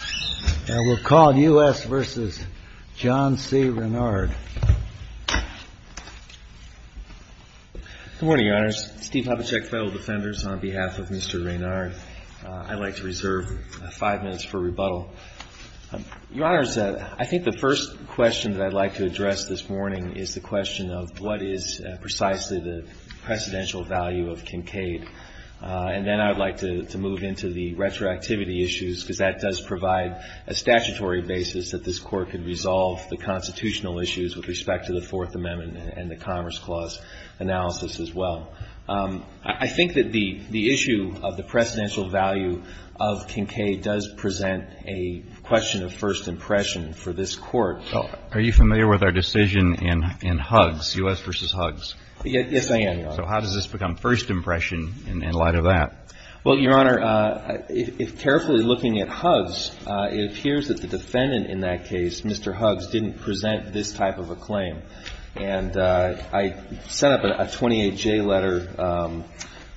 I will call U.S. v. John C. Reynard Good morning, Your Honors. Steve Hopicek, Federal Defenders, on behalf of Mr. Reynard. I'd like to reserve five minutes for rebuttal. Your Honors, I think the first question that I'd like to address this morning is the question of what is precisely the precedential value of Kincaid. And then I'd like to move into the retroactivity issues because that does provide a statutory basis that this Court can resolve the constitutional issues with respect to the Fourth Amendment and the Commerce Clause analysis as well. I think that the issue of the precedential value of Kincaid does present a question of first impression for this Court. Are you familiar with our decision in Huggs, U.S. v. Huggs? Yes, I am, Your Honor. So how does this become first impression in light of that? Well, Your Honor, if carefully looking at Huggs, it appears that the defendant in that case, Mr. Huggs, didn't present this type of a claim. And I set up a 28-J letter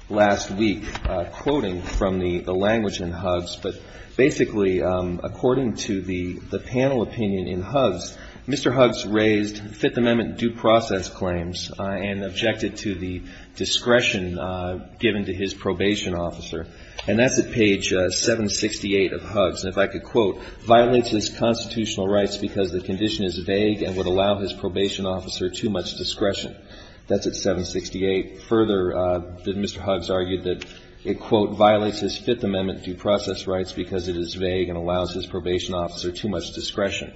last week quoting from the language in Huggs. But basically, according to the panel opinion in Huggs, Mr. Huggs raised Fifth Amendment due process claims and objected to the discretion given to his probation officer. And that's at page 768 of Huggs. And if I could quote, violates his constitutional rights because the condition is vague and would allow his probation officer too much discretion. That's at 768. Further, Mr. Huggs argued that, quote, violates his Fifth Amendment due process rights because it is vague and allows his probation officer too much discretion,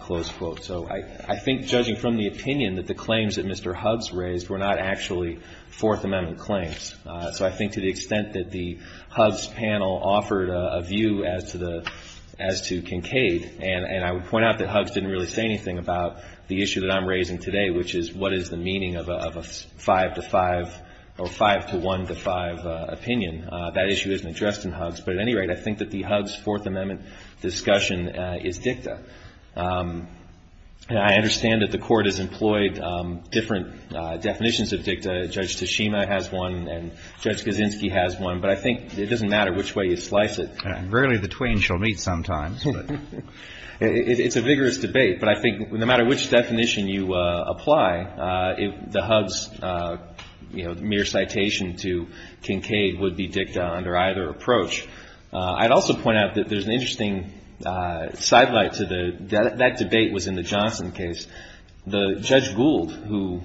close quote. So I think judging from the opinion that the claims that Mr. Huggs raised were not actually Fourth Amendment claims. So I think to the extent that the Huggs panel offered a view as to the, as to Kincaid, and I would point out that Huggs didn't really say anything about the issue that I'm raising today, which is what is the meaning of a 5-to-5 or 5-to-1-to-5 opinion. That issue isn't addressed in Huggs. But at any rate, I think that the Huggs Fourth Amendment discussion is dicta. And I understand that the Court has employed different definitions of dicta. Judge Tashima has one, and Judge Kaczynski has one. But I think it doesn't matter which way you slice it. And rarely the twain shall meet sometimes. It's a vigorous debate. But I think no matter which definition you apply, the Huggs mere citation to Kincaid would be dicta under either approach. I'd also point out that there's an interesting sidelight to the, that debate was in the Johnson case. The Judge Gould, who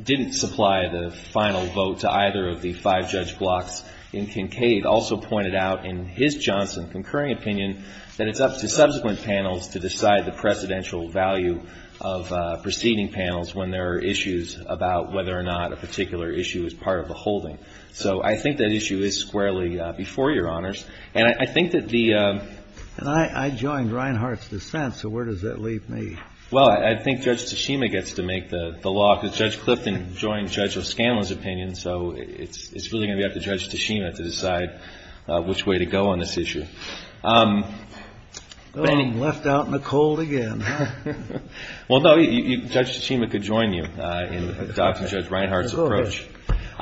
didn't supply the final vote to either of the five-judge blocks in Kincaid, also pointed out in his Johnson concurring opinion that it's up to subsequent panels to decide the presidential value of preceding panels when there are issues about whether or not a particular issue is part of the holding. So I think that issue is squarely before Your Honors. And I think that the — And I joined Reinhart's dissent, so where does that leave me? Well, I think Judge Tashima gets to make the law, because Judge Clifton joined Judge O'Scanlan's opinion. So it's really going to be up to Judge Tashima to decide which way to go on this issue. Well, I'm left out in the cold again. Well, no, Judge Tashima could join you in adopting Judge Reinhart's approach.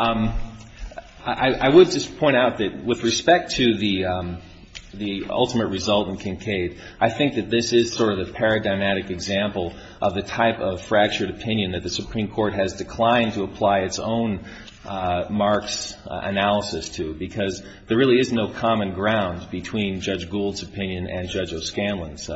I would just point out that with respect to the ultimate result in Kincaid, I think that this is sort of the paradigmatic example of the type of fractured opinion that the Supreme Court has declined to apply its own marks analysis to, because there really is no common ground between Judge Gould's opinion and Judge O'Scanlan's.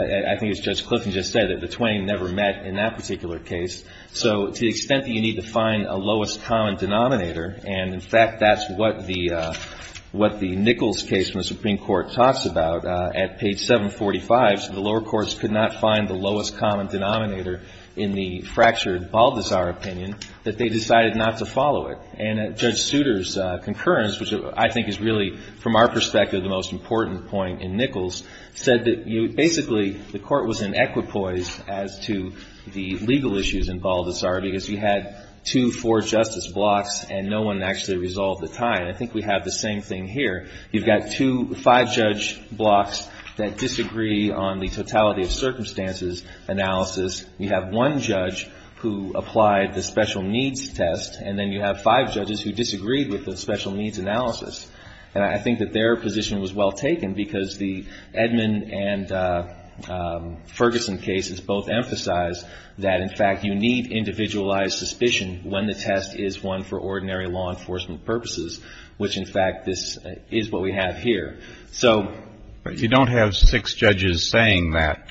I think as Judge Clifton just said, the 20 never met in that particular case. So to the extent that you need to find a lowest common denominator, and in fact, that's what the Nichols case from the Supreme Court talks about at page 745, so the lower courts could not find the lowest common denominator in the fractured Baldassare opinion, that they decided not to follow it. And Judge Souter's concurrence, which I think is really, from our perspective, the most important point in Nichols, said that basically the court was in equipoise as to the legal issues in Baldassare, because you had two, four justice blocks, and no one actually resolved the tie. And I think we have the same thing here. You've got five judge blocks that disagree on the totality of circumstances analysis. You have one judge who applied the special needs test, and then you have five judges who disagreed with the special needs analysis. And I think that their position was well taken, because the Edmond and Ferguson cases both emphasize that, in fact, you need individualized suspicion when the test is one for ordinary law enforcement purposes, which, in fact, this is what we have here. So... But you don't have six judges saying that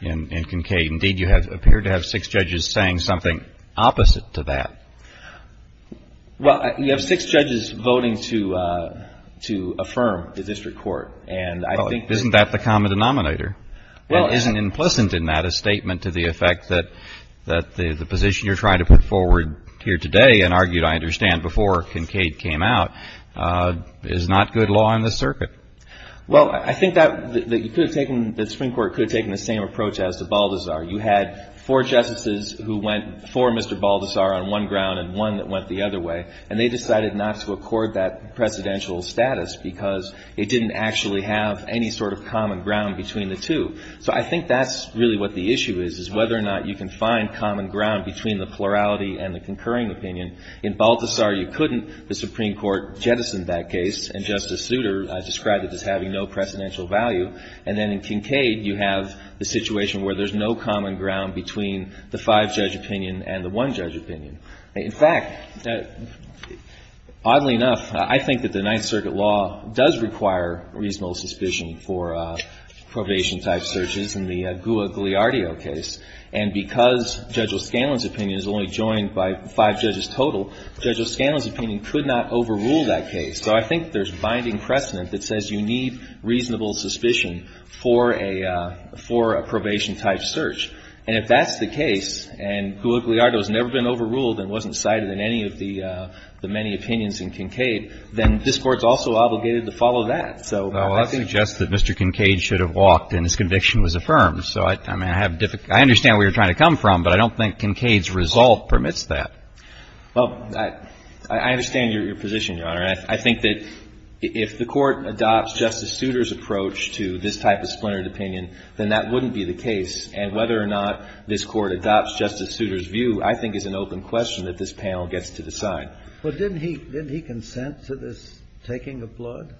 in Kincaid. Indeed, you appear to have six judges saying something opposite to that. Well, you have six judges voting to affirm the district court, and I think... Well, isn't that the common denominator? Well... Isn't implicit in that a statement to the effect that the position you're trying to put forward here today, and argued, I understand, before Kincaid came out, is not good law in this circuit? Well, I think that the Supreme Court could have taken the same approach as to Baldassare. You had four justices who went for Mr. Baldassare on one ground and one that went the other way, and they decided not to accord that precedential status, because it didn't actually have any sort of common ground between the two. So I think that's really what the issue is, is whether or not you can find common ground between the plurality and the concurring opinion. In Baldassare, you couldn't. The Supreme Court jettisoned that case, and Justice Souter described it as having no precedential value. And then in Kincaid, you have the situation where there's no common ground between the five-judge opinion and the one-judge opinion. In fact, oddly enough, I think that the Ninth Circuit law does require reasonable suspicion for probation-type searches in the Goua-Gliardio case. And because Judge O'Scanlan's opinion is only joined by five judges total, Judge O'Scanlan's opinion could not overrule that case. So I think there's binding precedent that says you need reasonable suspicion for a probation-type search. And if that's the case, and Goua-Gliardio's never been overruled and wasn't cited in any of the many opinions in Kincaid, then this Court's also obligated to follow that. So I think — Well, I suggest that Mr. Kincaid should have walked and his conviction was affirmed. So I mean, I have — I understand where you're trying to come from, but I don't think Kincaid's resolve permits that. Well, I understand your position, Your Honor. I think that if the Court adopts Justice Souter's approach to this type of splintered opinion, then that wouldn't be the case. And whether or not this Court adopts Justice Souter's view, I think, is an open question that this panel gets to decide. Well, didn't he consent to this taking of blood?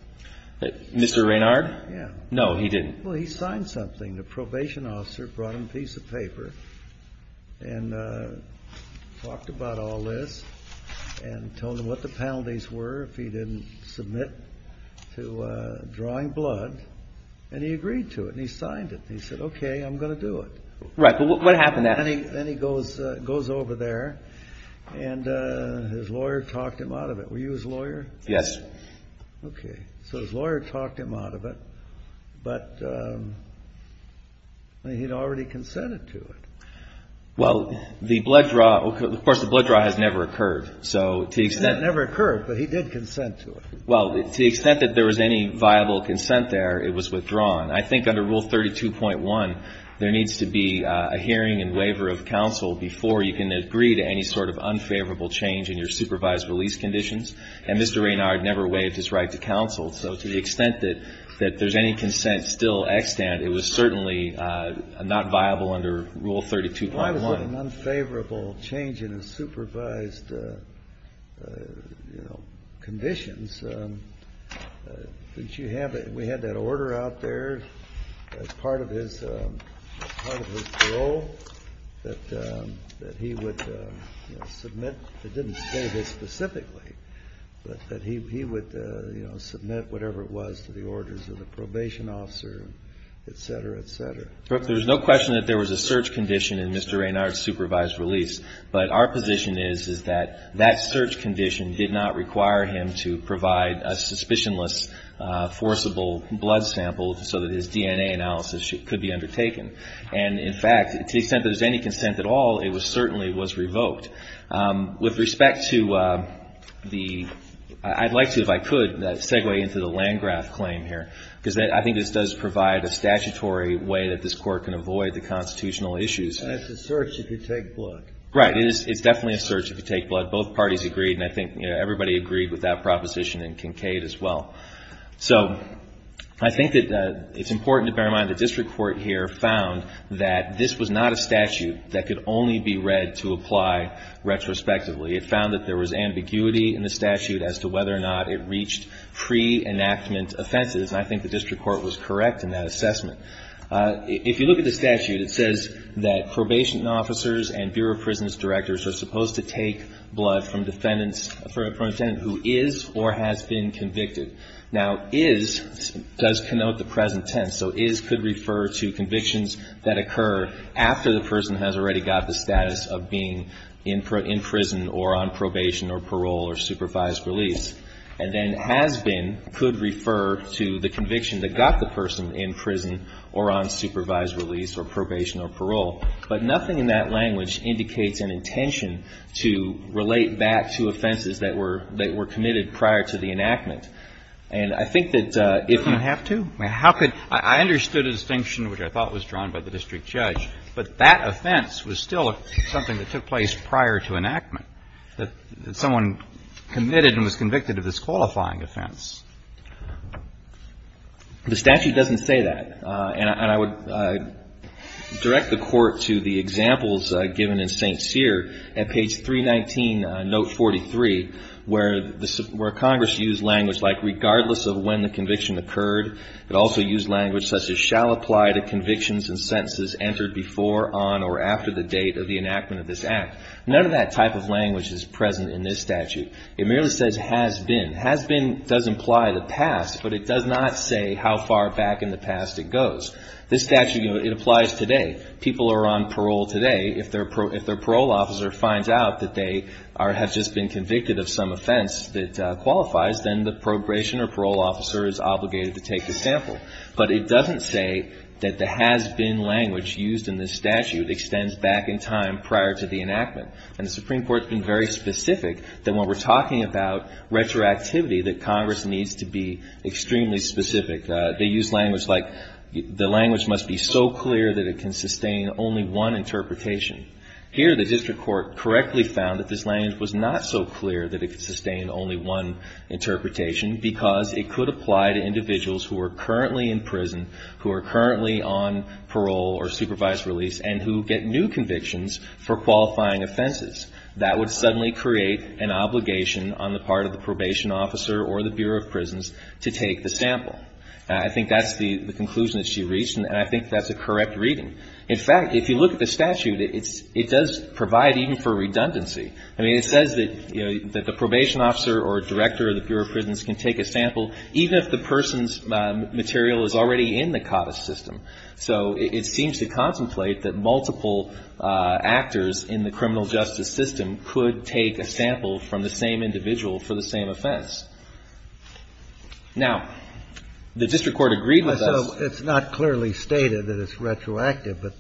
Mr. Raynard? Yeah. No, he didn't. Well, he signed something. The probation officer brought him a piece of paper and talked about all this and told him what the penalties were if he didn't submit to drawing blood. And he agreed to it. And he signed it. And he said, OK, I'm going to do it. Right. But what happened after that? Then he goes over there and his lawyer talked him out of it. Were you his lawyer? Yes. OK. So his lawyer talked him out of it, but he had already consented to it. Well, the blood draw — of course, the blood draw has never occurred. So to the extent — It never occurred, but he did consent to it. Well, to the extent that there was any viable consent there, it was withdrawn. I think under Rule 32.1, there needs to be a hearing and waiver of counsel before you can agree to any sort of unfavorable change in your supervised release conditions. And Mr. Raynard never waived his right to counsel. So to the extent that there's any consent still extant, it was certainly not viable under Rule 32.1. Unfavorable change in his supervised conditions. Didn't you have — we had that order out there as part of his parole that he would submit — it didn't say this specifically, but that he would submit whatever it was to the orders of the probation officer, et cetera, et cetera. There's no question that there was a search condition in Mr. Raynard's supervised release. But our position is that that search condition did not require him to provide a suspicionless forcible blood sample so that his DNA analysis could be undertaken. And in fact, to the extent that there's any consent at all, it certainly was revoked. With respect to the — I'd like to, if I could, segue into the Landgraf claim here, because I think this does provide a statutory way that this Court can avoid the constitutional issues. And it's a search if you take blood. Right. It's definitely a search if you take blood. Both parties agreed, and I think everybody agreed with that proposition in Kincaid as well. So I think that it's important to bear in mind the district court here found that this was not a statute that could only be read to apply retrospectively. It found that there was ambiguity in the statute as to whether or not it reached pre-enactment offenses. And I think the district court was correct in that assessment. If you look at the statute, it says that probation officers and Bureau of Prisons directors are supposed to take blood from defendants — from a defendant who is or has been convicted. Now, is does connote the present tense. So is could refer to convictions that occur after the person has already got the status of being in prison or on probation or parole or supervised release. And then has been could refer to the conviction that got the person in prison or on supervised release or probation or parole. But nothing in that language indicates an intention to relate back to offenses that were — that were committed prior to the enactment. And I think that if you — You don't have to. I mean, how could — I understood a distinction which I thought was drawn by the district judge, but that offense was still something that took place prior to enactment. That someone committed and was convicted of this qualifying offense. The statute doesn't say that. And I would direct the court to the examples given in St. Cyr at page 319, note 43, where Congress used language like regardless of when the conviction occurred, it also used language such as shall apply to convictions and sentences entered before, on, or after the date of the enactment of this act. None of that type of language is present in this statute. It merely says has been. Has been does imply the past, but it does not say how far back in the past it goes. This statute, you know, it applies today. People are on parole today. If their parole officer finds out that they are — have just been convicted of some offense that qualifies, then the probation or parole officer is obligated to take the sample. But it doesn't say that the has been language used in this statute extends back in time prior to the enactment. And the Supreme Court has been very specific that when we're talking about retroactivity, that Congress needs to be extremely specific. They use language like the language must be so clear that it can sustain only one interpretation. Here, the district court correctly found that this language was not so clear that it could sustain only one interpretation because it could apply to individuals who are currently in prison, who are currently on parole or supervised release, and who get new convictions for qualifying offenses. That would suddenly create an obligation on the part of the probation officer or the Bureau of Prisons to take the sample. I think that's the conclusion that she reached, and I think that's a correct reading. In fact, if you look at the statute, it's — it does provide even for redundancy. I mean, it says that, you know, that the probation officer or director of the Bureau of Prisons can take a sample even if the person's material is already in the CODIS system. So it seems to contemplate that multiple actors in the criminal justice system could take a sample from the same individual for the same offense. Now, the district court agreed with us — So it's not clearly stated that it's retroactive, but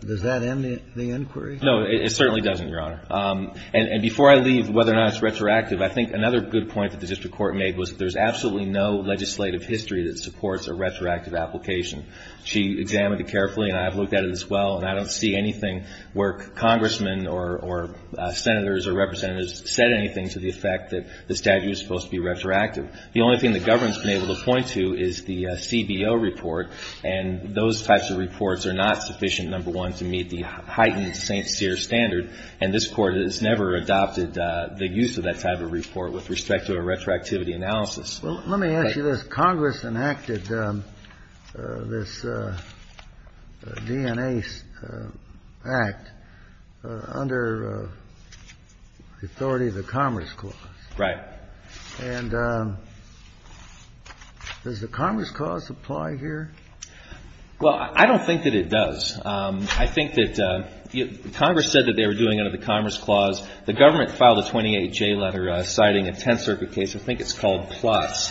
does that end the inquiry? No, it certainly doesn't, Your Honor. And before I leave whether or not it's retroactive, I think another good point that the district court made was there's absolutely no legislative history that supports a retroactive application. She examined it carefully, and I have looked at it as well, and I don't see anything where congressmen or senators or representatives said anything to the effect that the statute is supposed to be retroactive. The only thing the government's been able to point to is the CBO report, and those types of reports are not sufficient, number one, to meet the heightened St. Cyr standard, and this Court has never adopted the use of that type of report with respect to a retroactivity analysis. Well, let me ask you this. Congress enacted this DNA Act under the authority of the Commerce Clause. Right. And does the Commerce Clause apply here? Well, I don't think that it does. I think that Congress said that they were doing it under the Commerce Clause. The government filed a 28J letter citing a Tenth Circuit case. I think it's called PLOTS,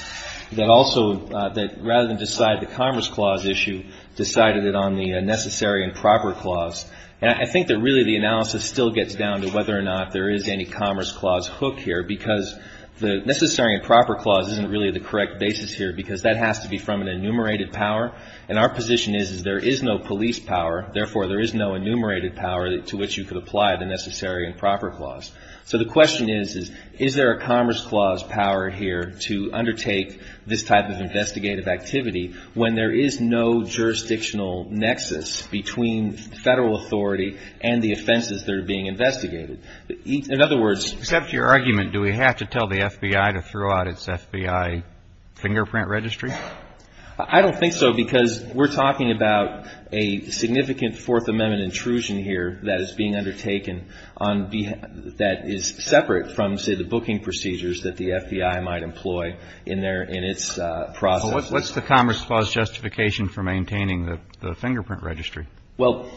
that also rather than decide the Commerce Clause issue, decided it on the Necessary and Proper Clause. And I think that really the analysis still gets down to whether or not there is any Commerce Clause hook here, because the Necessary and Proper Clause isn't really the correct basis here, because that has to be from an enumerated power, and our position is that there is no police power, therefore there is no enumerated power to which you could apply the Necessary and Proper Clause. So the question is, is there a Commerce Clause power here to undertake this type of investigative activity when there is no jurisdictional nexus between Federal authority and the offenses that are being investigated? In other words — Except your argument, do we have to tell the FBI to throw out its FBI fingerprint registry? I don't think so, because we're talking about a significant Fourth Amendment intrusion here that is being undertaken that is separate from, say, the booking procedures that the FBI might employ in its process. So what's the Commerce Clause justification for maintaining the fingerprint registry? Well,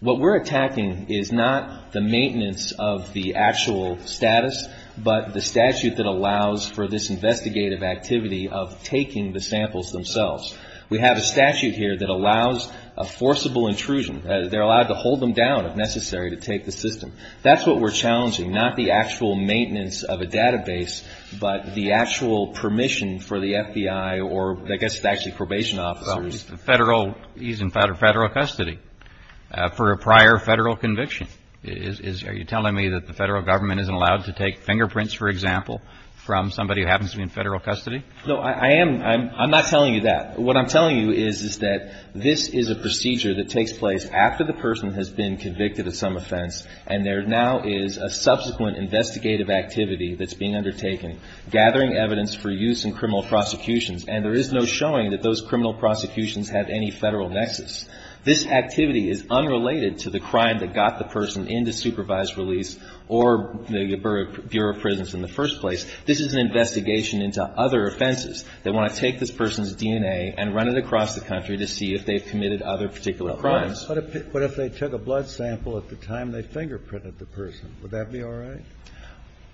what we're attacking is not the maintenance of the actual status, but the statute that allows for this investigative activity of taking the samples themselves. We have a statute here that allows a forcible intrusion. They're allowed to hold them down if necessary to take the system. That's what we're challenging, not the actual maintenance of a database, but the actual permission for the FBI or, I guess, actually probation officers. Well, the Federal — he's in Federal custody for a prior Federal conviction. Are you telling me that the Federal Government isn't allowed to take fingerprints, for example, from somebody who happens to be in Federal custody? No, I am — I'm not telling you that. What I'm telling you is, is that this is a procedure that takes place after the person has been convicted of some offense, and there now is a subsequent investigative activity that's being undertaken, gathering evidence for use in criminal prosecutions, and there is no showing that those criminal prosecutions have any Federal nexus. This activity is unrelated to the crime that got the person into supervised release or the Bureau of Prisons in the first place. This is an investigation into other offenses. They want to take this person's DNA and run it across the country to see if they've committed other particular crimes. But if they took a blood sample at the time they fingerprinted the person, would that be all right?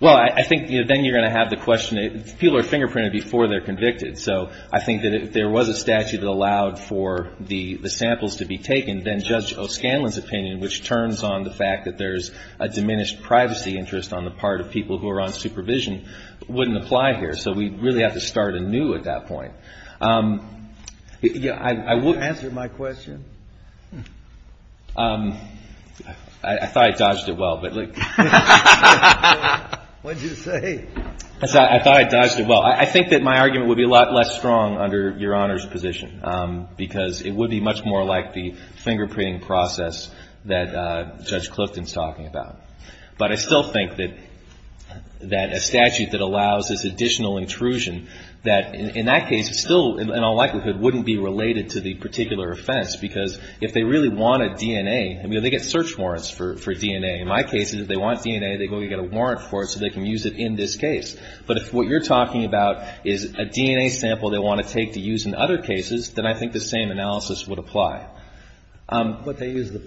Well, I think, you know, then you're going to have the question — people are fingerprinted before they're convicted. So I think that if there was a statute that allowed for the samples to be taken, then Judge O'Scanlan's opinion, which turns on the fact that there's a diminished privacy interest on the part of people who are on supervision, wouldn't apply here. So we'd really have to start anew at that point. Yeah, I would — Did you answer my question? I thought I dodged it well, but — What did you say? I thought I dodged it well. I think that my argument would be a lot less strong under Your Honor's position, because it would be much more like the fingerprinting process that Judge Clifton's talking about. But I still think that a statute that allows this additional intrusion, that in that case, still, in all likelihood, wouldn't be related to the particular offense, because if they really want a DNA — I mean, they get search warrants for DNA. In my case, if they want DNA, they're going to get a warrant for it so they can use it in this case. But if what you're talking about is a DNA sample they want to take to use in other cases, then I think the same analysis would apply. But they use the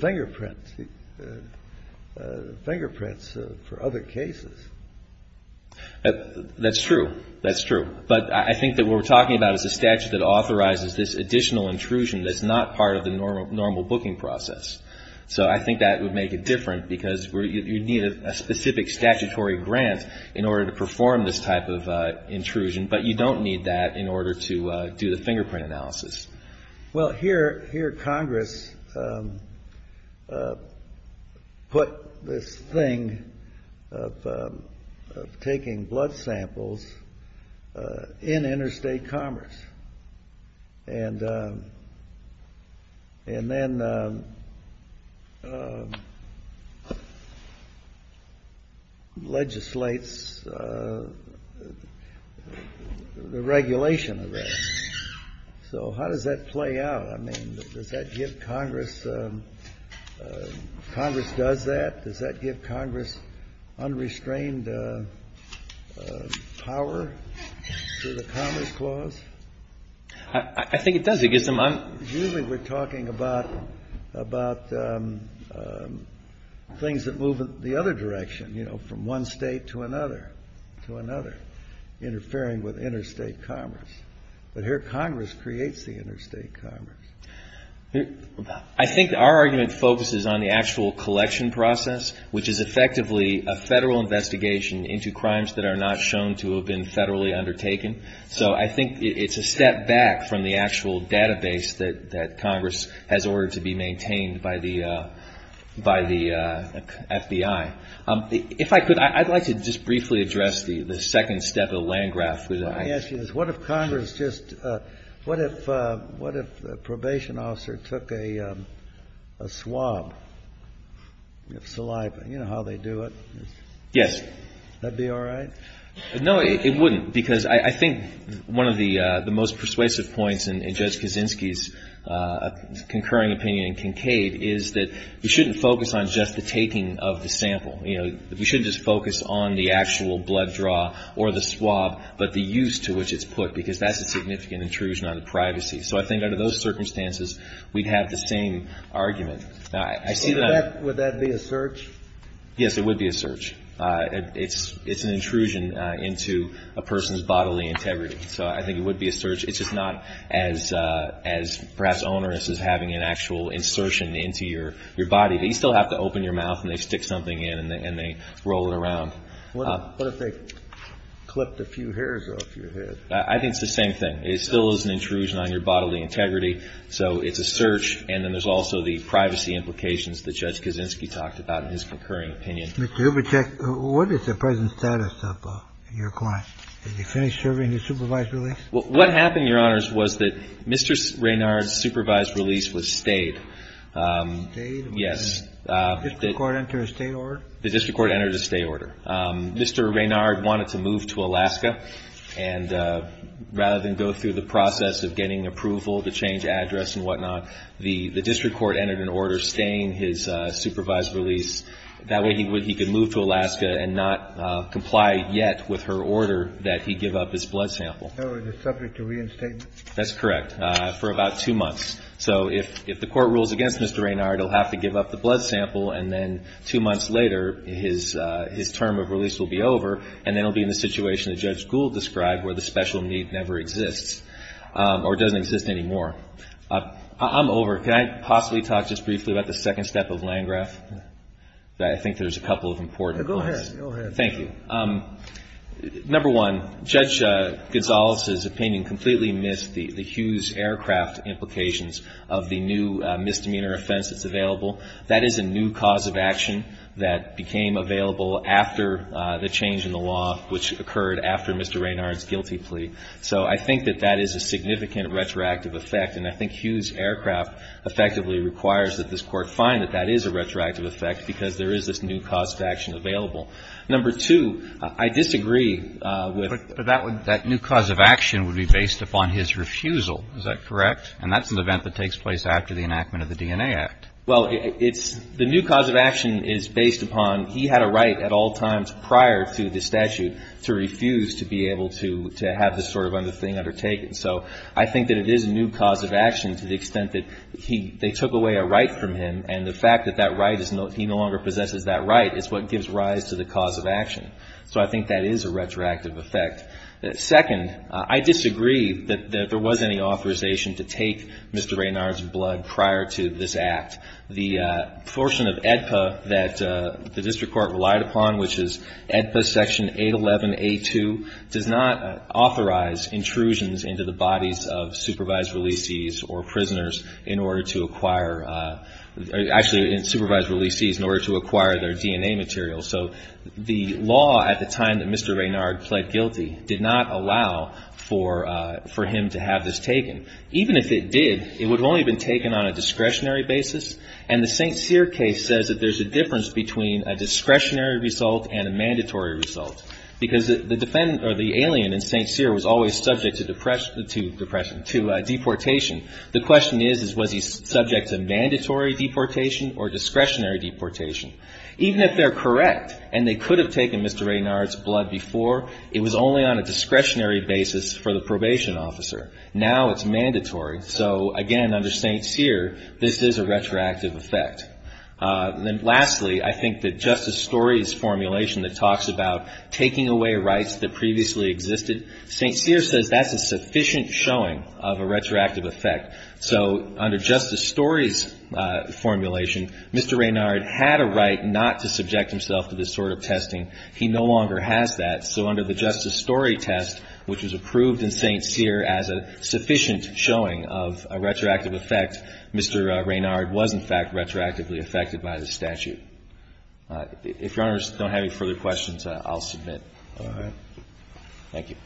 fingerprints for other cases. That's true. That's true. But I think that what we're talking about is a statute that authorizes this additional intrusion that's not part of the normal booking process. So I think that would make it different, because you'd need a specific statutory grant in order to perform this type of intrusion. But you don't need that in order to do the fingerprint analysis. Well, here Congress put this thing of taking blood samples in interstate commerce, and then legislates the regulation of that. So how does that play out? I mean, does that give Congress — Congress does that? Does that give Congress unrestrained power to the Commerce Clause? I think it does. Usually we're talking about things that move in the other direction, you know, from one state to another, interfering with interstate commerce. But here Congress creates the interstate commerce. I think our argument focuses on the actual collection process, which is effectively a Federal investigation into crimes that are not shown to have been Federally undertaken. So I think it's a step back from the actual database that Congress has ordered to be maintained by the FBI. If I could, I'd like to just briefly address the second step of the land graph. Let me ask you this. What if Congress just — what if a probation officer took a swab of saliva? You know how they do it. Yes. Would that be all right? No, it wouldn't, because I think one of the most persuasive points in Judge Kaczynski's concurring opinion in Kincaid is that we shouldn't focus on just the taking of the sample. You know, we shouldn't just focus on the actual blood draw or the swab, but the use to which it's put, because that's a significant intrusion on the privacy. So I think under those circumstances, we'd have the same argument. I see that I'm — So would that be a search? Yes, it would be a search. It's an intrusion into a person's bodily integrity. So I think it would be a search. It's just not as perhaps onerous as having an actual insertion into your body. But you still have to open your mouth, and they stick something in, and they roll it around. What if they clipped a few hairs off your head? I think it's the same thing. It still is an intrusion on your bodily integrity. So it's a search. And then there's also the privacy implications that Judge Kaczynski talked about in his concurring opinion. Mr. Hubachek, what is the present status of your client? Has he finished serving his supervised release? What happened, Your Honors, was that Mr. Raynard's supervised release was stayed. Stayed? Yes. Did the district court enter a stay order? The district court entered a stay order. Mr. Raynard wanted to move to Alaska. And rather than go through the process of getting approval to change address and whatnot, the district court entered an order staying his supervised release. That way he could move to Alaska and not comply yet with her order that he give up his blood sample. So he was subject to reinstatement? That's correct, for about two months. So if the court rules against Mr. Raynard, he'll have to give up the blood sample, and then two months later his term of release will be over, and then he'll be in the situation that Judge Gould described where the special need never exists, or doesn't exist anymore. I'm over. Can I possibly talk just briefly about the second step of Landgraf? I think there's a couple of important points. Go ahead. Thank you. Number one, Judge Gonzales' opinion completely missed the Hughes Aircraft implications of the new misdemeanor offense that's available. That is a new cause of action that became available after the change in the law, which occurred after Mr. Raynard's guilty plea. So I think that that is a significant retroactive effect, and I think Hughes Aircraft effectively requires that this court find that that is a retroactive effect because there is this new cause of action available. Number two, I disagree with But that new cause of action would be based upon his refusal. Is that correct? And that's an event that takes place after the enactment of the DNA Act. Well, the new cause of action is based upon he had a right at all times prior to the statute to refuse to be able to have this sort of thing undertaken. So I think that it is a new cause of action to the extent that they took away a right from him, and the fact that he no longer possesses that right is what gives rise to the cause of action. So I think that is a retroactive effect. Second, I disagree that there was any authorization to take Mr. Raynard's blood prior to this act. The portion of AEDPA that the district court relied upon, which is AEDPA Section 811A2, does not authorize intrusions into the bodies of supervised releasees or prisoners in order to acquire or actually supervised releasees in order to acquire their DNA material. So the law at the time that Mr. Raynard pled guilty did not allow for him to have this taken. Even if it did, it would have only been taken on a discretionary basis, and the St. Cyr case says that there's a difference between a discretionary result and a mandatory result because the alien in St. Cyr was always subject to deportation. The question is, was he subject to mandatory deportation or discretionary deportation? Even if they're correct and they could have taken Mr. Raynard's blood before, it was only on a discretionary basis for the probation officer. Now it's mandatory. So, again, under St. Cyr, this is a retroactive effect. Lastly, I think that Justice Story's formulation that talks about taking away rights that previously existed, St. Cyr says that's a sufficient showing of a retroactive effect. So under Justice Story's formulation, Mr. Raynard had a right not to subject himself to this sort of testing. He no longer has that. So under the Justice Story test, which was approved in St. Cyr as a sufficient showing of a retroactive effect, Mr. Raynard was, in fact, retroactively affected by the statute. If Your Honors don't have any further questions, I'll submit. All right. Thank you.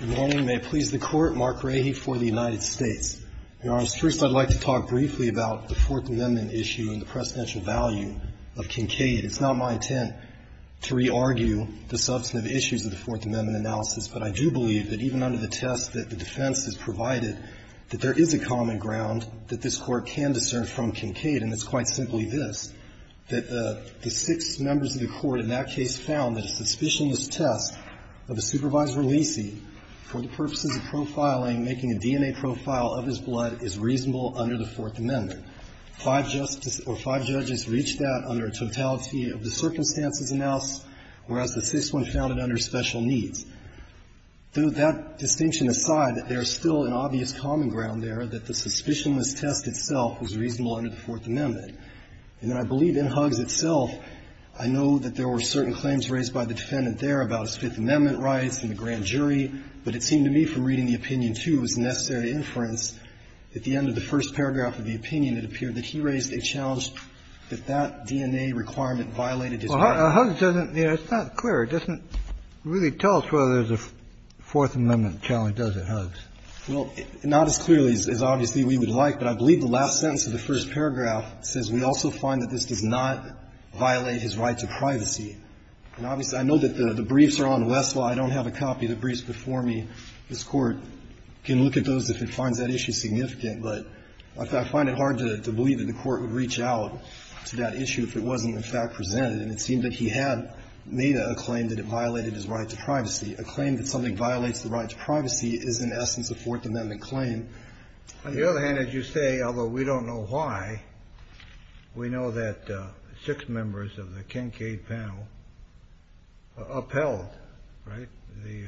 Good morning. May it please the Court, Mark Rahe for the United States. Your Honors, first I'd like to talk briefly about the Fourth Amendment issue and the precedential value of Kincaid. It's not my intent to re-argue the substantive issues of the Fourth Amendment analysis, but I do believe that even under the test that the defense has provided, that there is a common ground that this Court can discern from Kincaid, and it's quite simply this, that the six members of the Court in that case found that a suspicionless test of a supervisor leasing for the purposes of profiling, making a DNA profile of his blood, is reasonable under the Fourth Amendment. Five judges reached that under a totality of the circumstances announced, whereas the sixth one found it under special needs. That distinction aside, there is still an obvious common ground there that the suspicionless test itself was reasonable under the Fourth Amendment. And I believe in Huggs itself, I know that there were certain claims raised by the defendant there about his Fifth Amendment rights and the grand jury, but it seemed to me from the necessary inference at the end of the first paragraph of the opinion, it appeared that he raised a challenge that that DNA requirement violated his rights. Kennedy. Well, Huggs doesn't, you know, it's not clear. It doesn't really tell us whether there's a Fourth Amendment challenge, does it, Huggs? Well, not as clearly as obviously we would like, but I believe the last sentence of the first paragraph says we also find that this does not violate his right to privacy. And obviously, I know that the briefs are on Westlaw. I don't have a copy of the briefs before me. And this Court can look at those if it finds that issue significant. But I find it hard to believe that the Court would reach out to that issue if it wasn't in fact presented. And it seemed that he had made a claim that it violated his right to privacy. A claim that something violates the right to privacy is in essence a Fourth Amendment claim. On the other hand, as you say, although we don't know why, we know that six members of the Kincade panel upheld, right, the ----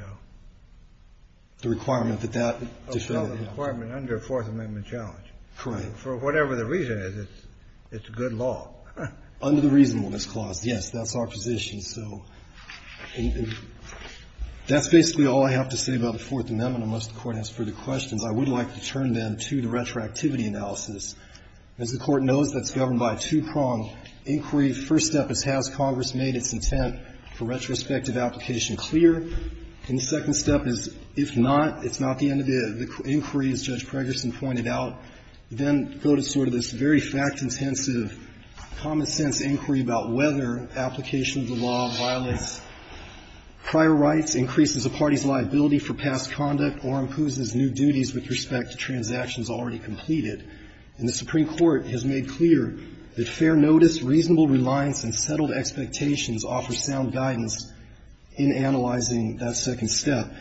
The requirement that that defendant ---- Upheld the requirement under a Fourth Amendment challenge. Correct. For whatever the reason is, it's good law. Under the reasonableness clause, yes, that's our position. So that's basically all I have to say about the Fourth Amendment. Unless the Court has further questions, I would like to turn then to the retroactivity analysis. As the Court knows, that's governed by a two-pronged inquiry. The first step is, has Congress made its intent for retrospective application clear? And the second step is, if not, it's not the end of it. The inquiry, as Judge Pregerson pointed out, then go to sort of this very fact-intensive, common-sense inquiry about whether application of the law violates prior rights, increases a party's liability for past conduct, or imposes new duties with respect to transactions already completed. And the Supreme Court has made clear that fair notice, reasonable reliance, and settled expectations offer sound guidance in analyzing that second step.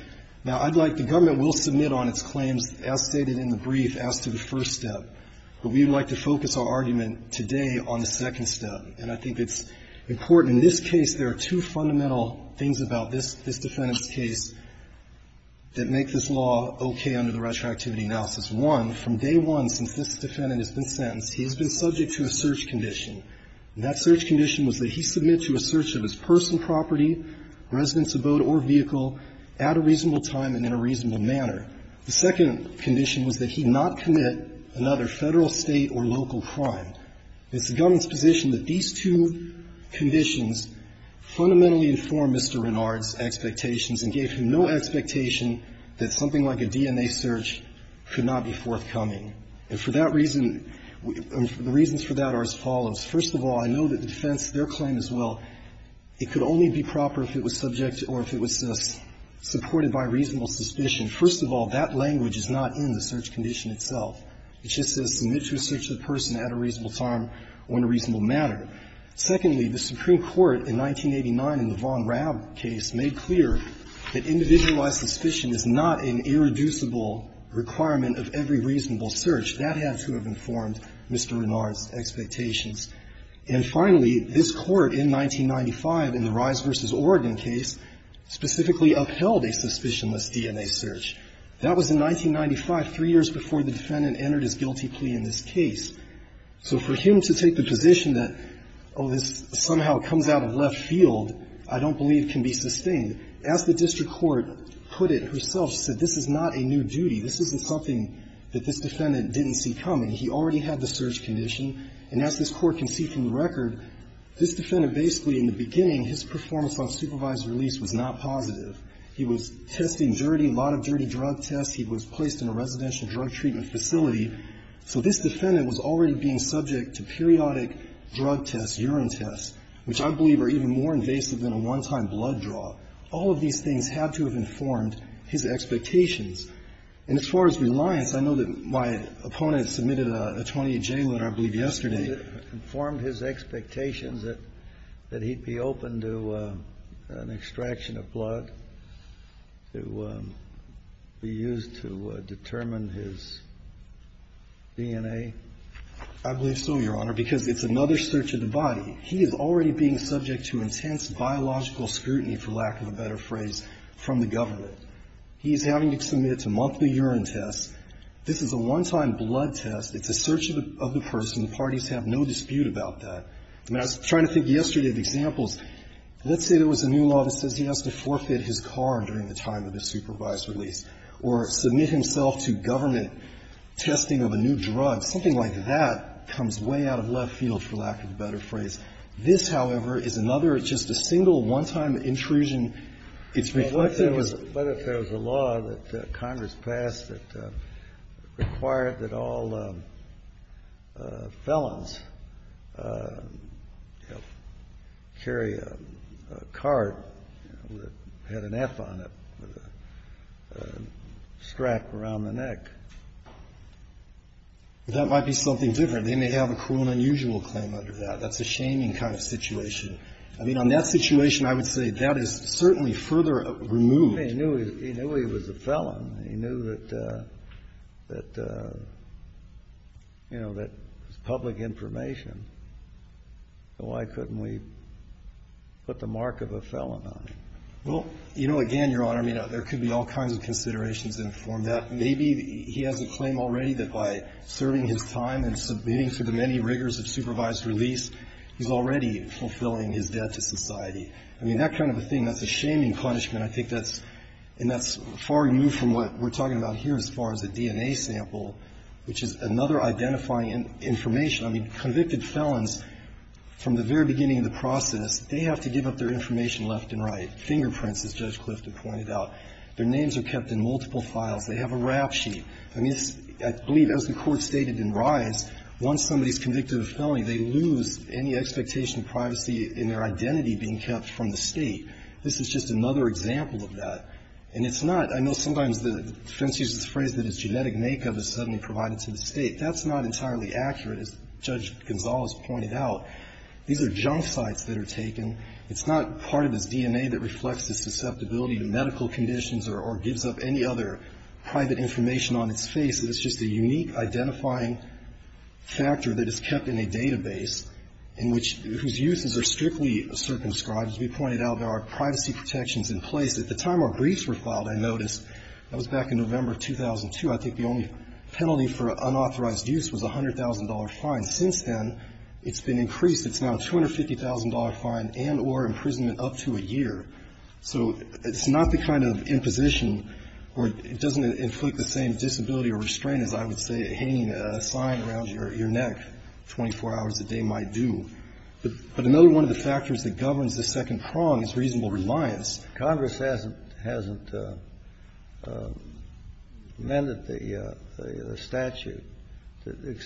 Now, I'd like to ---- The government will submit on its claims as stated in the brief as to the first step. But we would like to focus our argument today on the second step. And I think it's important. In this case, there are two fundamental things about this defendant's case that make this law okay under the retroactivity analysis. One, from day one since this defendant has been sentenced, he has been subject to a search condition. And that search condition was that he submit to a search of his personal property, residence, abode, or vehicle at a reasonable time and in a reasonable manner. The second condition was that he not commit another Federal, State, or local crime. It's the government's position that these two conditions fundamentally inform Mr. Renard's expectations and gave him no expectation that something like a DNA search could not be forthcoming. And for that reason, the reasons for that are as follows. First of all, I know that the defense, their claim as well, it could only be proper if it was subject or if it was supported by reasonable suspicion. First of all, that language is not in the search condition itself. It just says submit to a search of the person at a reasonable time or in a reasonable manner. Secondly, the Supreme Court in 1989 in the Von Raab case made clear that individualized suspicion is not an irreducible requirement of every reasonable search. That had to have informed Mr. Renard's expectations. And finally, this Court in 1995 in the Rise v. Oregon case specifically upheld a suspicionless DNA search. That was in 1995, three years before the defendant entered his guilty plea in this case. So for him to take the position that, oh, this somehow comes out of left field, I don't believe can be sustained. As the district court put it herself, said this is not a new duty. This isn't something that this defendant didn't see coming. He already had the search condition. And as this Court can see from the record, this defendant basically in the beginning, his performance on supervised release was not positive. He was testing dirty, a lot of dirty drug tests. He was placed in a residential drug treatment facility. So this defendant was already being subject to periodic drug tests, urine tests, which I believe are even more invasive than a one-time blood draw. All of these things had to have informed his expectations. And as far as reliance, I know that my opponent submitted a 20-J letter, I believe, yesterday. Kennedy, did it inform his expectations that he'd be open to an extraction of blood to be used to determine his DNA? I believe so, Your Honor, because it's another search of the body. He is already being subject to intense biological scrutiny, for lack of a better phrase, from the government. He is having to submit to monthly urine tests. This is a one-time blood test. It's a search of the person. The parties have no dispute about that. I mean, I was trying to think yesterday of examples. Let's say there was a new law that says he has to forfeit his car during the time of his supervised release or submit himself to government testing of a new drug. Something like that comes way out of left field, for lack of a better phrase. This, however, is another. It's just a single one-time intrusion. It's reflected as a law that Congress passed that required that all felons carry a card that had an F on it with a strap around the neck. But that might be something different. They may have a cruel and unusual claim under that. That's a shaming kind of situation. I mean, on that situation, I would say that is certainly further removed. I mean, he knew he was a felon. He knew that, you know, that it was public information. So why couldn't we put the mark of a felon on him? Well, you know, again, Your Honor, I mean, there could be all kinds of considerations that inform that. Maybe he has a claim already that by serving his time and submitting to the many rigors of supervised release, he's already fulfilling his debt to society. I mean, that kind of a thing, that's a shaming punishment. I think that's far removed from what we're talking about here as far as a DNA sample, which is another identifying information. I mean, convicted felons, from the very beginning of the process, they have to give up their information left and right, fingerprints, as Judge Clifton pointed out. Their names are kept in multiple files. They have a rap sheet. I mean, I believe, as the Court stated in Rise, once somebody's convicted of a felony, they lose any expectation of privacy in their identity being kept from the State. This is just another example of that. And it's not – I know sometimes the defense uses the phrase that his genetic makeup is suddenly provided to the State. That's not entirely accurate, as Judge Gonzales pointed out. These are junk sites that are taken. It's not part of his DNA that reflects his susceptibility to medical conditions or gives up any other private information on its face. It's just a unique identifying factor that is kept in a database in which – whose uses are strictly circumscribed. As we pointed out, there are privacy protections in place. At the time our briefs were filed, I noticed, that was back in November of 2002, I think the only penalty for unauthorized use was a $100,000 fine. Since then, it's been increased. It's now a $250,000 fine and or imprisonment up to a year. So it's not the kind of imposition where it doesn't inflict the same disability or restraint as, I would say, hanging a sign around your neck 24 hours a day might do. But another one of the factors that governs the second prong is reasonable Congress hasn't amended the statute to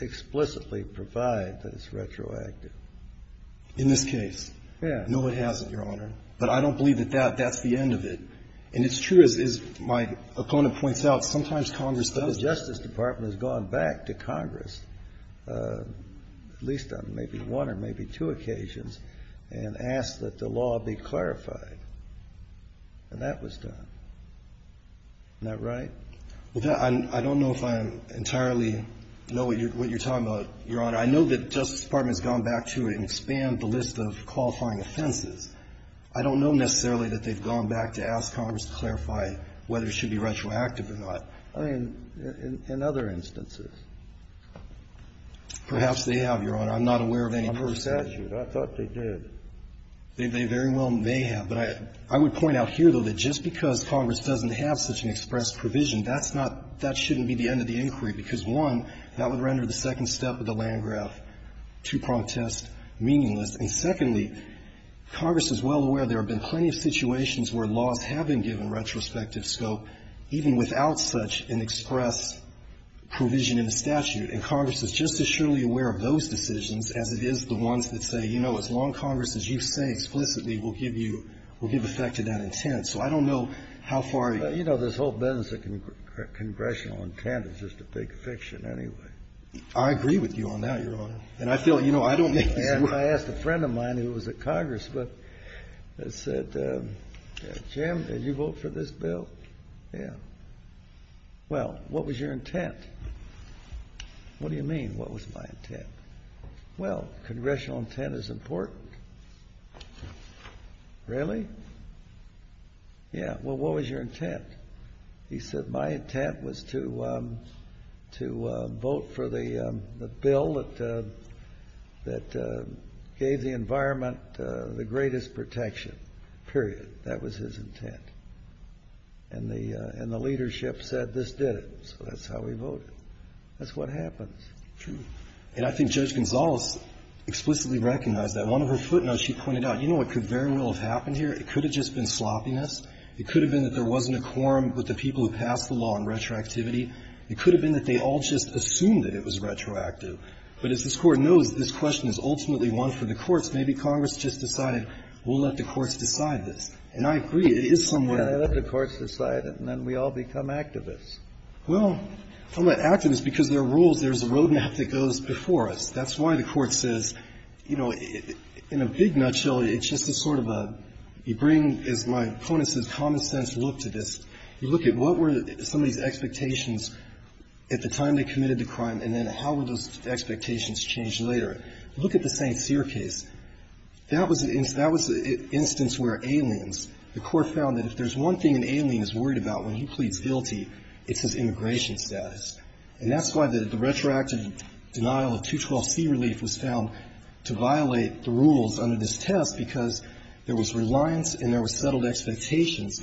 explicitly provide that it's retroactive. In this case? Yes. No, it hasn't, Your Honor. But I don't believe that that's the end of it. And it's true, as my opponent points out, sometimes Congress does. The Justice Department has gone back to Congress, at least on maybe one or maybe two occasions, and asked that the law be clarified. And that was done. Isn't that right? Well, I don't know if I entirely know what you're talking about, Your Honor. I know that the Justice Department has gone back to it and expanded the list of qualifying offenses. I don't know necessarily that they've gone back to ask Congress to clarify whether it should be retroactive or not. I mean, in other instances. Perhaps they have, Your Honor. I'm not aware of any per se. Under the statute, I thought they did. They very well may have. But I would point out here, though, that just because Congress doesn't have such an express provision, that's not — that shouldn't be the end of the inquiry, because, one, that would render the second step of the Landgraf II prong test meaningless. And secondly, Congress is well aware there have been plenty of situations where laws have been given retrospective scope even without such an express provision in the statute. And Congress is just as surely aware of those decisions as it is the ones that say, you know, as long Congress as you say explicitly will give you — will give effect to that intent. So I don't know how far you — Well, you know, this whole business of congressional intent is just a big fiction anyway. I agree with you on that, Your Honor. And I feel, you know, I don't think — And I asked a friend of mine who was at Congress, but said, Jim, did you vote for this bill? Yeah. Well, what was your intent? What do you mean, what was my intent? Well, congressional intent is important. Really? Yeah. Well, what was your intent? He said, my intent was to vote for the bill that gave the environment the greatest protection, period. That was his intent. And the — and the leadership said, this did it. So that's how we voted. That's what happens. True. And I think Judge Gonzales explicitly recognized that. One of her footnotes, she pointed out, you know what could very well have happened here? It could have just been sloppiness. It could have been that there wasn't a quorum with the people who passed the law on retroactivity. It could have been that they all just assumed that it was retroactive. But as this Court knows, this question is ultimately one for the courts. Maybe Congress just decided, we'll let the courts decide this. And I agree. It is somewhat — Yeah, let the courts decide it, and then we all become activists. Well, I'm not an activist because there are rules. There's a road map that goes before us. That's why the Court says, you know, in a big nutshell, it's just a sort of a — you bring, as my opponent says, common sense look to this. You look at what were some of these expectations at the time they committed the crime, and then how would those expectations change later? Look at the St. Cyr case. That was an instance where aliens — the Court found that if there's one thing an alien is worried about when he pleads guilty, it's his immigration status. And that's why the retroactive denial of 212C relief was found to violate the rules under this test, because there was reliance and there was settled expectations.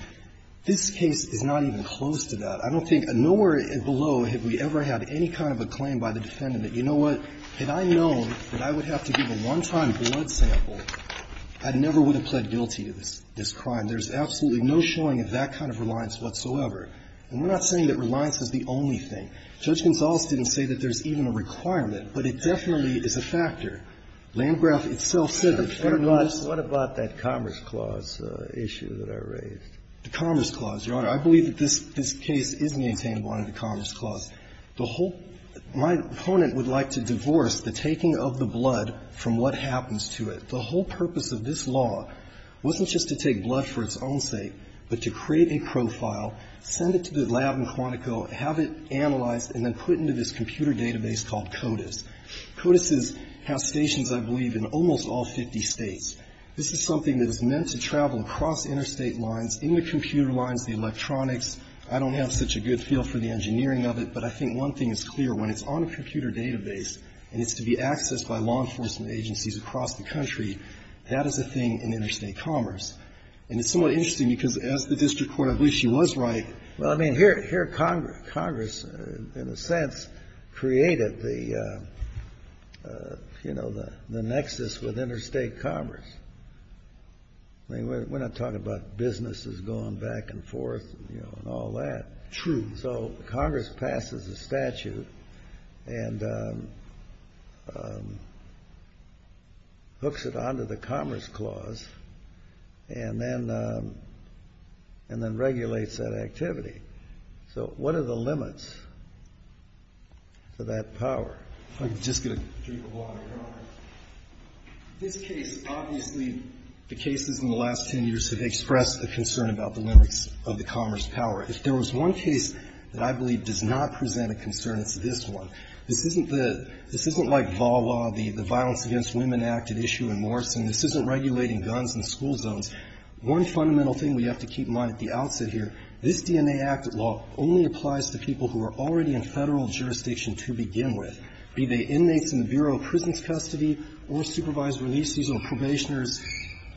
This case is not even close to that. I don't think — nowhere below have we ever had any kind of a claim by the defendant that, you know what, had I known that I would have to give a one-time blood sample, I never would have pled guilty to this — this crime. There's absolutely no showing of that kind of reliance whatsoever. And we're not saying that reliance is the only thing. Judge Gonzales didn't say that there's even a requirement, but it definitely is a factor. Landgraf itself said that. Breyer, what about that Commerce Clause issue that I raised? The Commerce Clause, Your Honor. I believe that this case is maintainable under the Commerce Clause. The whole — my opponent would like to divorce the taking of the blood from what happens to it. The whole purpose of this law wasn't just to take blood for its own sake, but to create a profile, send it to the lab in Quantico, have it analyzed, and then put into this computer database called CODIS. CODIS has stations, I believe, in almost all 50 States. This is something that is meant to travel across interstate lines, in the computer lines, the electronics. I don't have such a good feel for the engineering of it, but I think one thing is clear. When it's on a computer database and it's to be accessed by law enforcement agencies across the country, that is a thing in interstate commerce. And it's somewhat interesting, because as the district court, I believe she was right. Well, I mean, here Congress, in a sense, created the, you know, the nexus with interstate commerce. I mean, we're not talking about businesses going back and forth and, you know, and all that. True. So Congress passes a statute and hooks it onto the Commerce Clause and then regulates that activity. So what are the limits to that power? I'm just going to drink a glass of water. This case, obviously, the cases in the last 10 years have expressed a concern about the limits of the commerce power. If there was one case that I believe does not present a concern, it's this one. This isn't the — this isn't like VAWA, the Violence Against Women Act at issue in Morrison. This isn't regulating guns in school zones. One fundamental thing we have to keep in mind at the outset here, this DNA Act law only applies to people who are already in Federal jurisdiction to begin with, be they inmates in the Bureau of Prisons' custody or supervised releases or probationers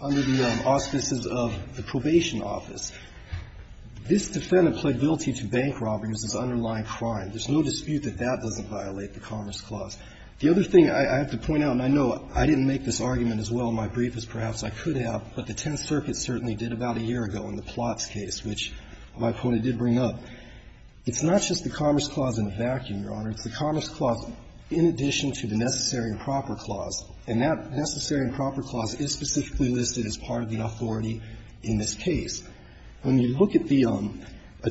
under the auspices of the probation office. This defendant pled guilty to bank robberies as underlying crime. There's no dispute that that doesn't violate the Commerce Clause. The other thing I have to point out, and I know I didn't make this argument as well in my brief as perhaps I could have, but the Tenth Circuit certainly did about a year ago in the Plotts case, which my point it did bring up, it's not just the Commerce Clause in a vacuum, Your Honor. It's the Commerce Clause in addition to the Necessary and Proper Clause. And that Necessary and Proper Clause is specifically listed as part of the authority in this case. When you look at the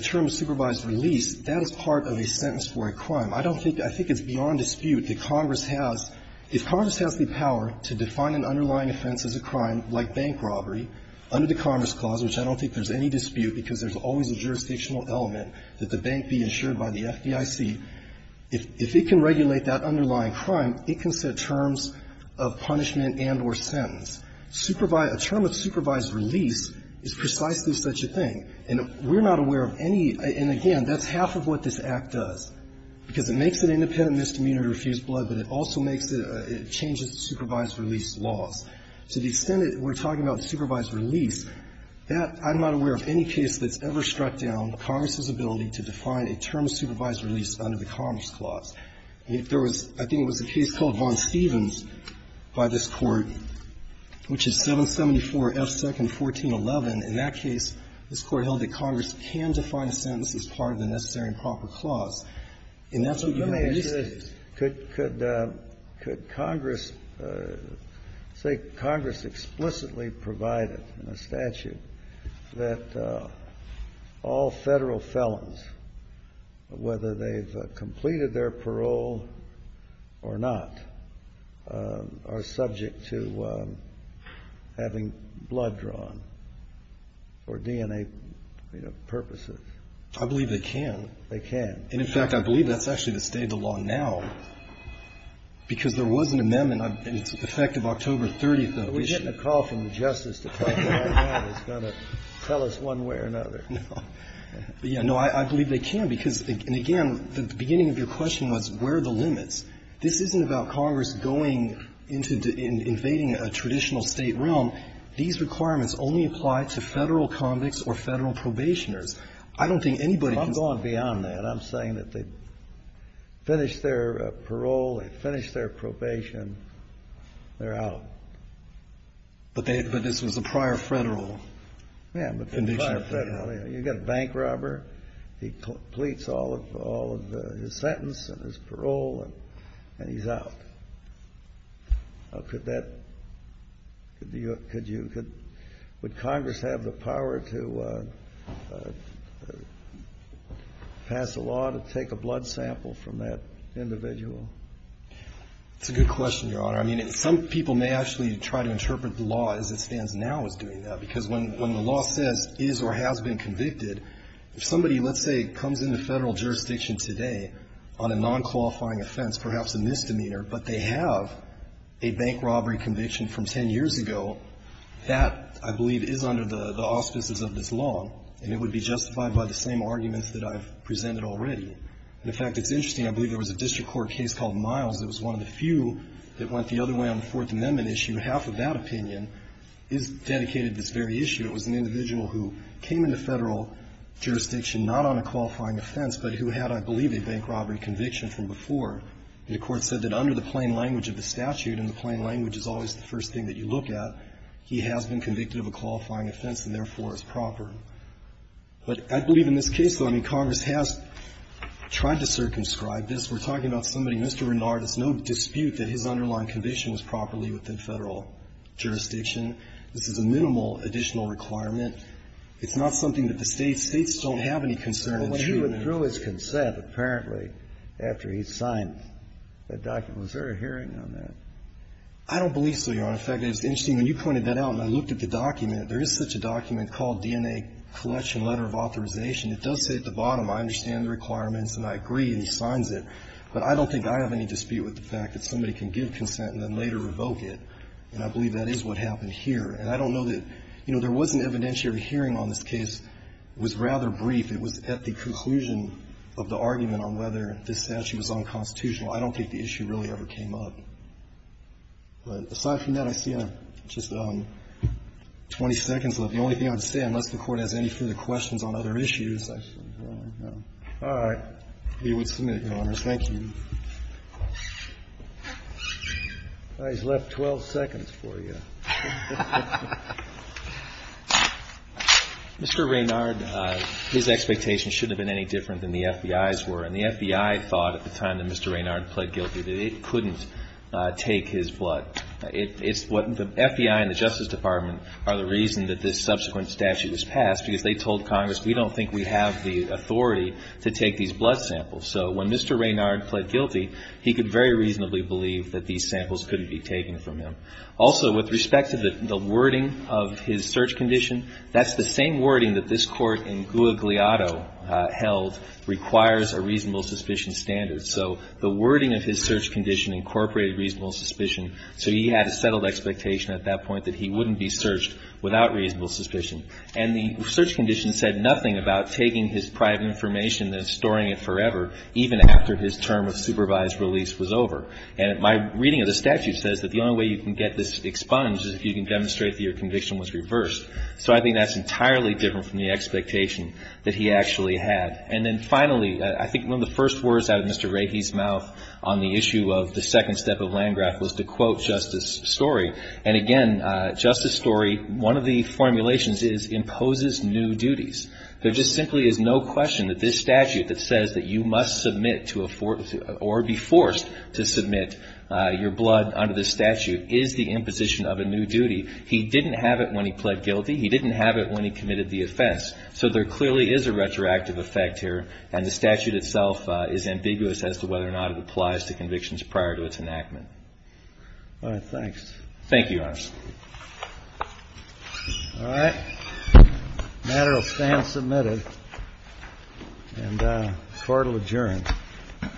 term supervised release, that is part of a sentence for a crime. I don't think — I think it's beyond dispute that Congress has — if Congress has the power to define an underlying offense as a crime, like bank robbery, under the Commerce Clause, which I don't think there's any dispute because there's always a jurisdictional element that the bank be insured by the FDIC, if it can regulate that underlying crime, it can set terms of punishment and or sentence. A term of supervised release is precisely such a thing. And we're not aware of any — and again, that's half of what this Act does, because it makes it independent misdemeanor to refuse blood, but it also makes it — it changes the supervised release laws. To the extent that we're talking about supervised release, that — I'm not aware of any case that's ever struck down Congress's ability to define a term of supervised release under the Commerce Clause. If there was — I think it was a case called Vaughn-Stevens by this Court, which is 774 F. 2nd, 1411. In that case, this Court held that Congress can define a sentence as part of the Necessary and Proper Clause, and that's what you have in this case. Could Congress — say Congress explicitly provided in a statute that all Federal felons, whether they've completed their parole or not, are subject to having blood drawn for DNA purposes? I believe they can. They can. And in fact, I believe that's actually the state of the law now. Because there was an amendment, and it's effective October 30th of this year. But we're getting a call from the Justice Department right now that's going to tell us one way or another. No. Yeah. No, I believe they can, because, and again, the beginning of your question was where are the limits. This isn't about Congress going into — invading a traditional State realm. These requirements only apply to Federal convicts or Federal probationers. I don't think anybody can say — they complete their parole, they finish their probation, they're out. But this was a prior Federal conviction. Yeah, but prior Federal. You've got a bank robber. He completes all of his sentence and his parole, and he's out. Could that — could you — would Congress have the power to pass a law to take a blood It's a good question, Your Honor. I mean, some people may actually try to interpret the law as it stands now as doing that, because when the law says is or has been convicted, if somebody, let's say, comes into Federal jurisdiction today on a nonqualifying offense, perhaps a misdemeanor, but they have a bank robbery conviction from 10 years ago, that, I believe, is under the auspices of this law, and it would be justified by the same arguments that I've presented already. And, in fact, it's interesting. I believe there was a district court case called Miles that was one of the few that went the other way on the Fourth Amendment issue. Half of that opinion is dedicated to this very issue. It was an individual who came into Federal jurisdiction not on a qualifying offense, but who had, I believe, a bank robbery conviction from before. And the Court said that under the plain language of the statute, and the plain language is always the first thing that you look at, he has been convicted of a qualifying offense and, therefore, is proper. But I believe in this case, though, I mean, Congress has tried to circumscribe this. We're talking about somebody, Mr. Renard, it's no dispute that his underlying conviction was properly within Federal jurisdiction. This is a minimal additional requirement. It's not something that the States don't have any concern in treating. Kennedy. But when he withdrew his consent, apparently, after he signed the document, was there a hearing on that? I don't believe so, Your Honor. In fact, it's interesting. When you pointed that out and I looked at the document, there is such a document called DNA Collection Letter of Authorization. It does say at the bottom, I understand the requirements and I agree, and he signs it, but I don't think I have any dispute with the fact that somebody can give consent and then later revoke it. And I believe that is what happened here. And I don't know that, you know, there was an evidentiary hearing on this case. It was rather brief. It was at the conclusion of the argument on whether this statute was unconstitutional. I don't think the issue really ever came up. But aside from that, I see just 20 seconds left. The only thing I would say, unless the Court has any further questions on other issues, I should probably no. All right. We would submit, Your Honors. Thank you. All right. He's left 12 seconds for you. Mr. Raynard, his expectations shouldn't have been any different than the FBI's were. And the FBI thought at the time that Mr. Raynard pled guilty that it couldn't take his blood. The FBI and the Justice Department are the reason that this subsequent statute was passed, because they told Congress, we don't think we have the authority to take these blood samples. So when Mr. Raynard pled guilty, he could very reasonably believe that these samples couldn't be taken from him. Also, with respect to the wording of his search condition, that's the same wording that this Court in Guadagliato held requires a reasonable suspicion standard. So the wording of his search condition incorporated reasonable suspicion. So he had a settled expectation at that point that he wouldn't be searched without reasonable suspicion. And the search condition said nothing about taking his private information and storing it forever, even after his term of supervised release was over. And my reading of the statute says that the only way you can get this expunged is if you can demonstrate that your conviction was reversed. So I think that's entirely different from the expectation that he actually had. And then finally, I think one of the first words out of Mr. Rahe's mouth on the issue of the second step of Landgraf was to quote Justice Story. And again, Justice Story, one of the formulations is, imposes new duties. There just simply is no question that this statute that says that you must submit to or be forced to submit your blood under this statute is the imposition of a new duty. He didn't have it when he pled guilty. He didn't have it when he committed the offense. So there clearly is a retroactive effect here, and the statute itself is ambiguous as to whether or not it applies to convictions prior to its enactment. All right. Thanks. Thank you, Your Honor. All right. The matter will stand submitted. And the Court will adjourn. All rise. This Court is adjourned.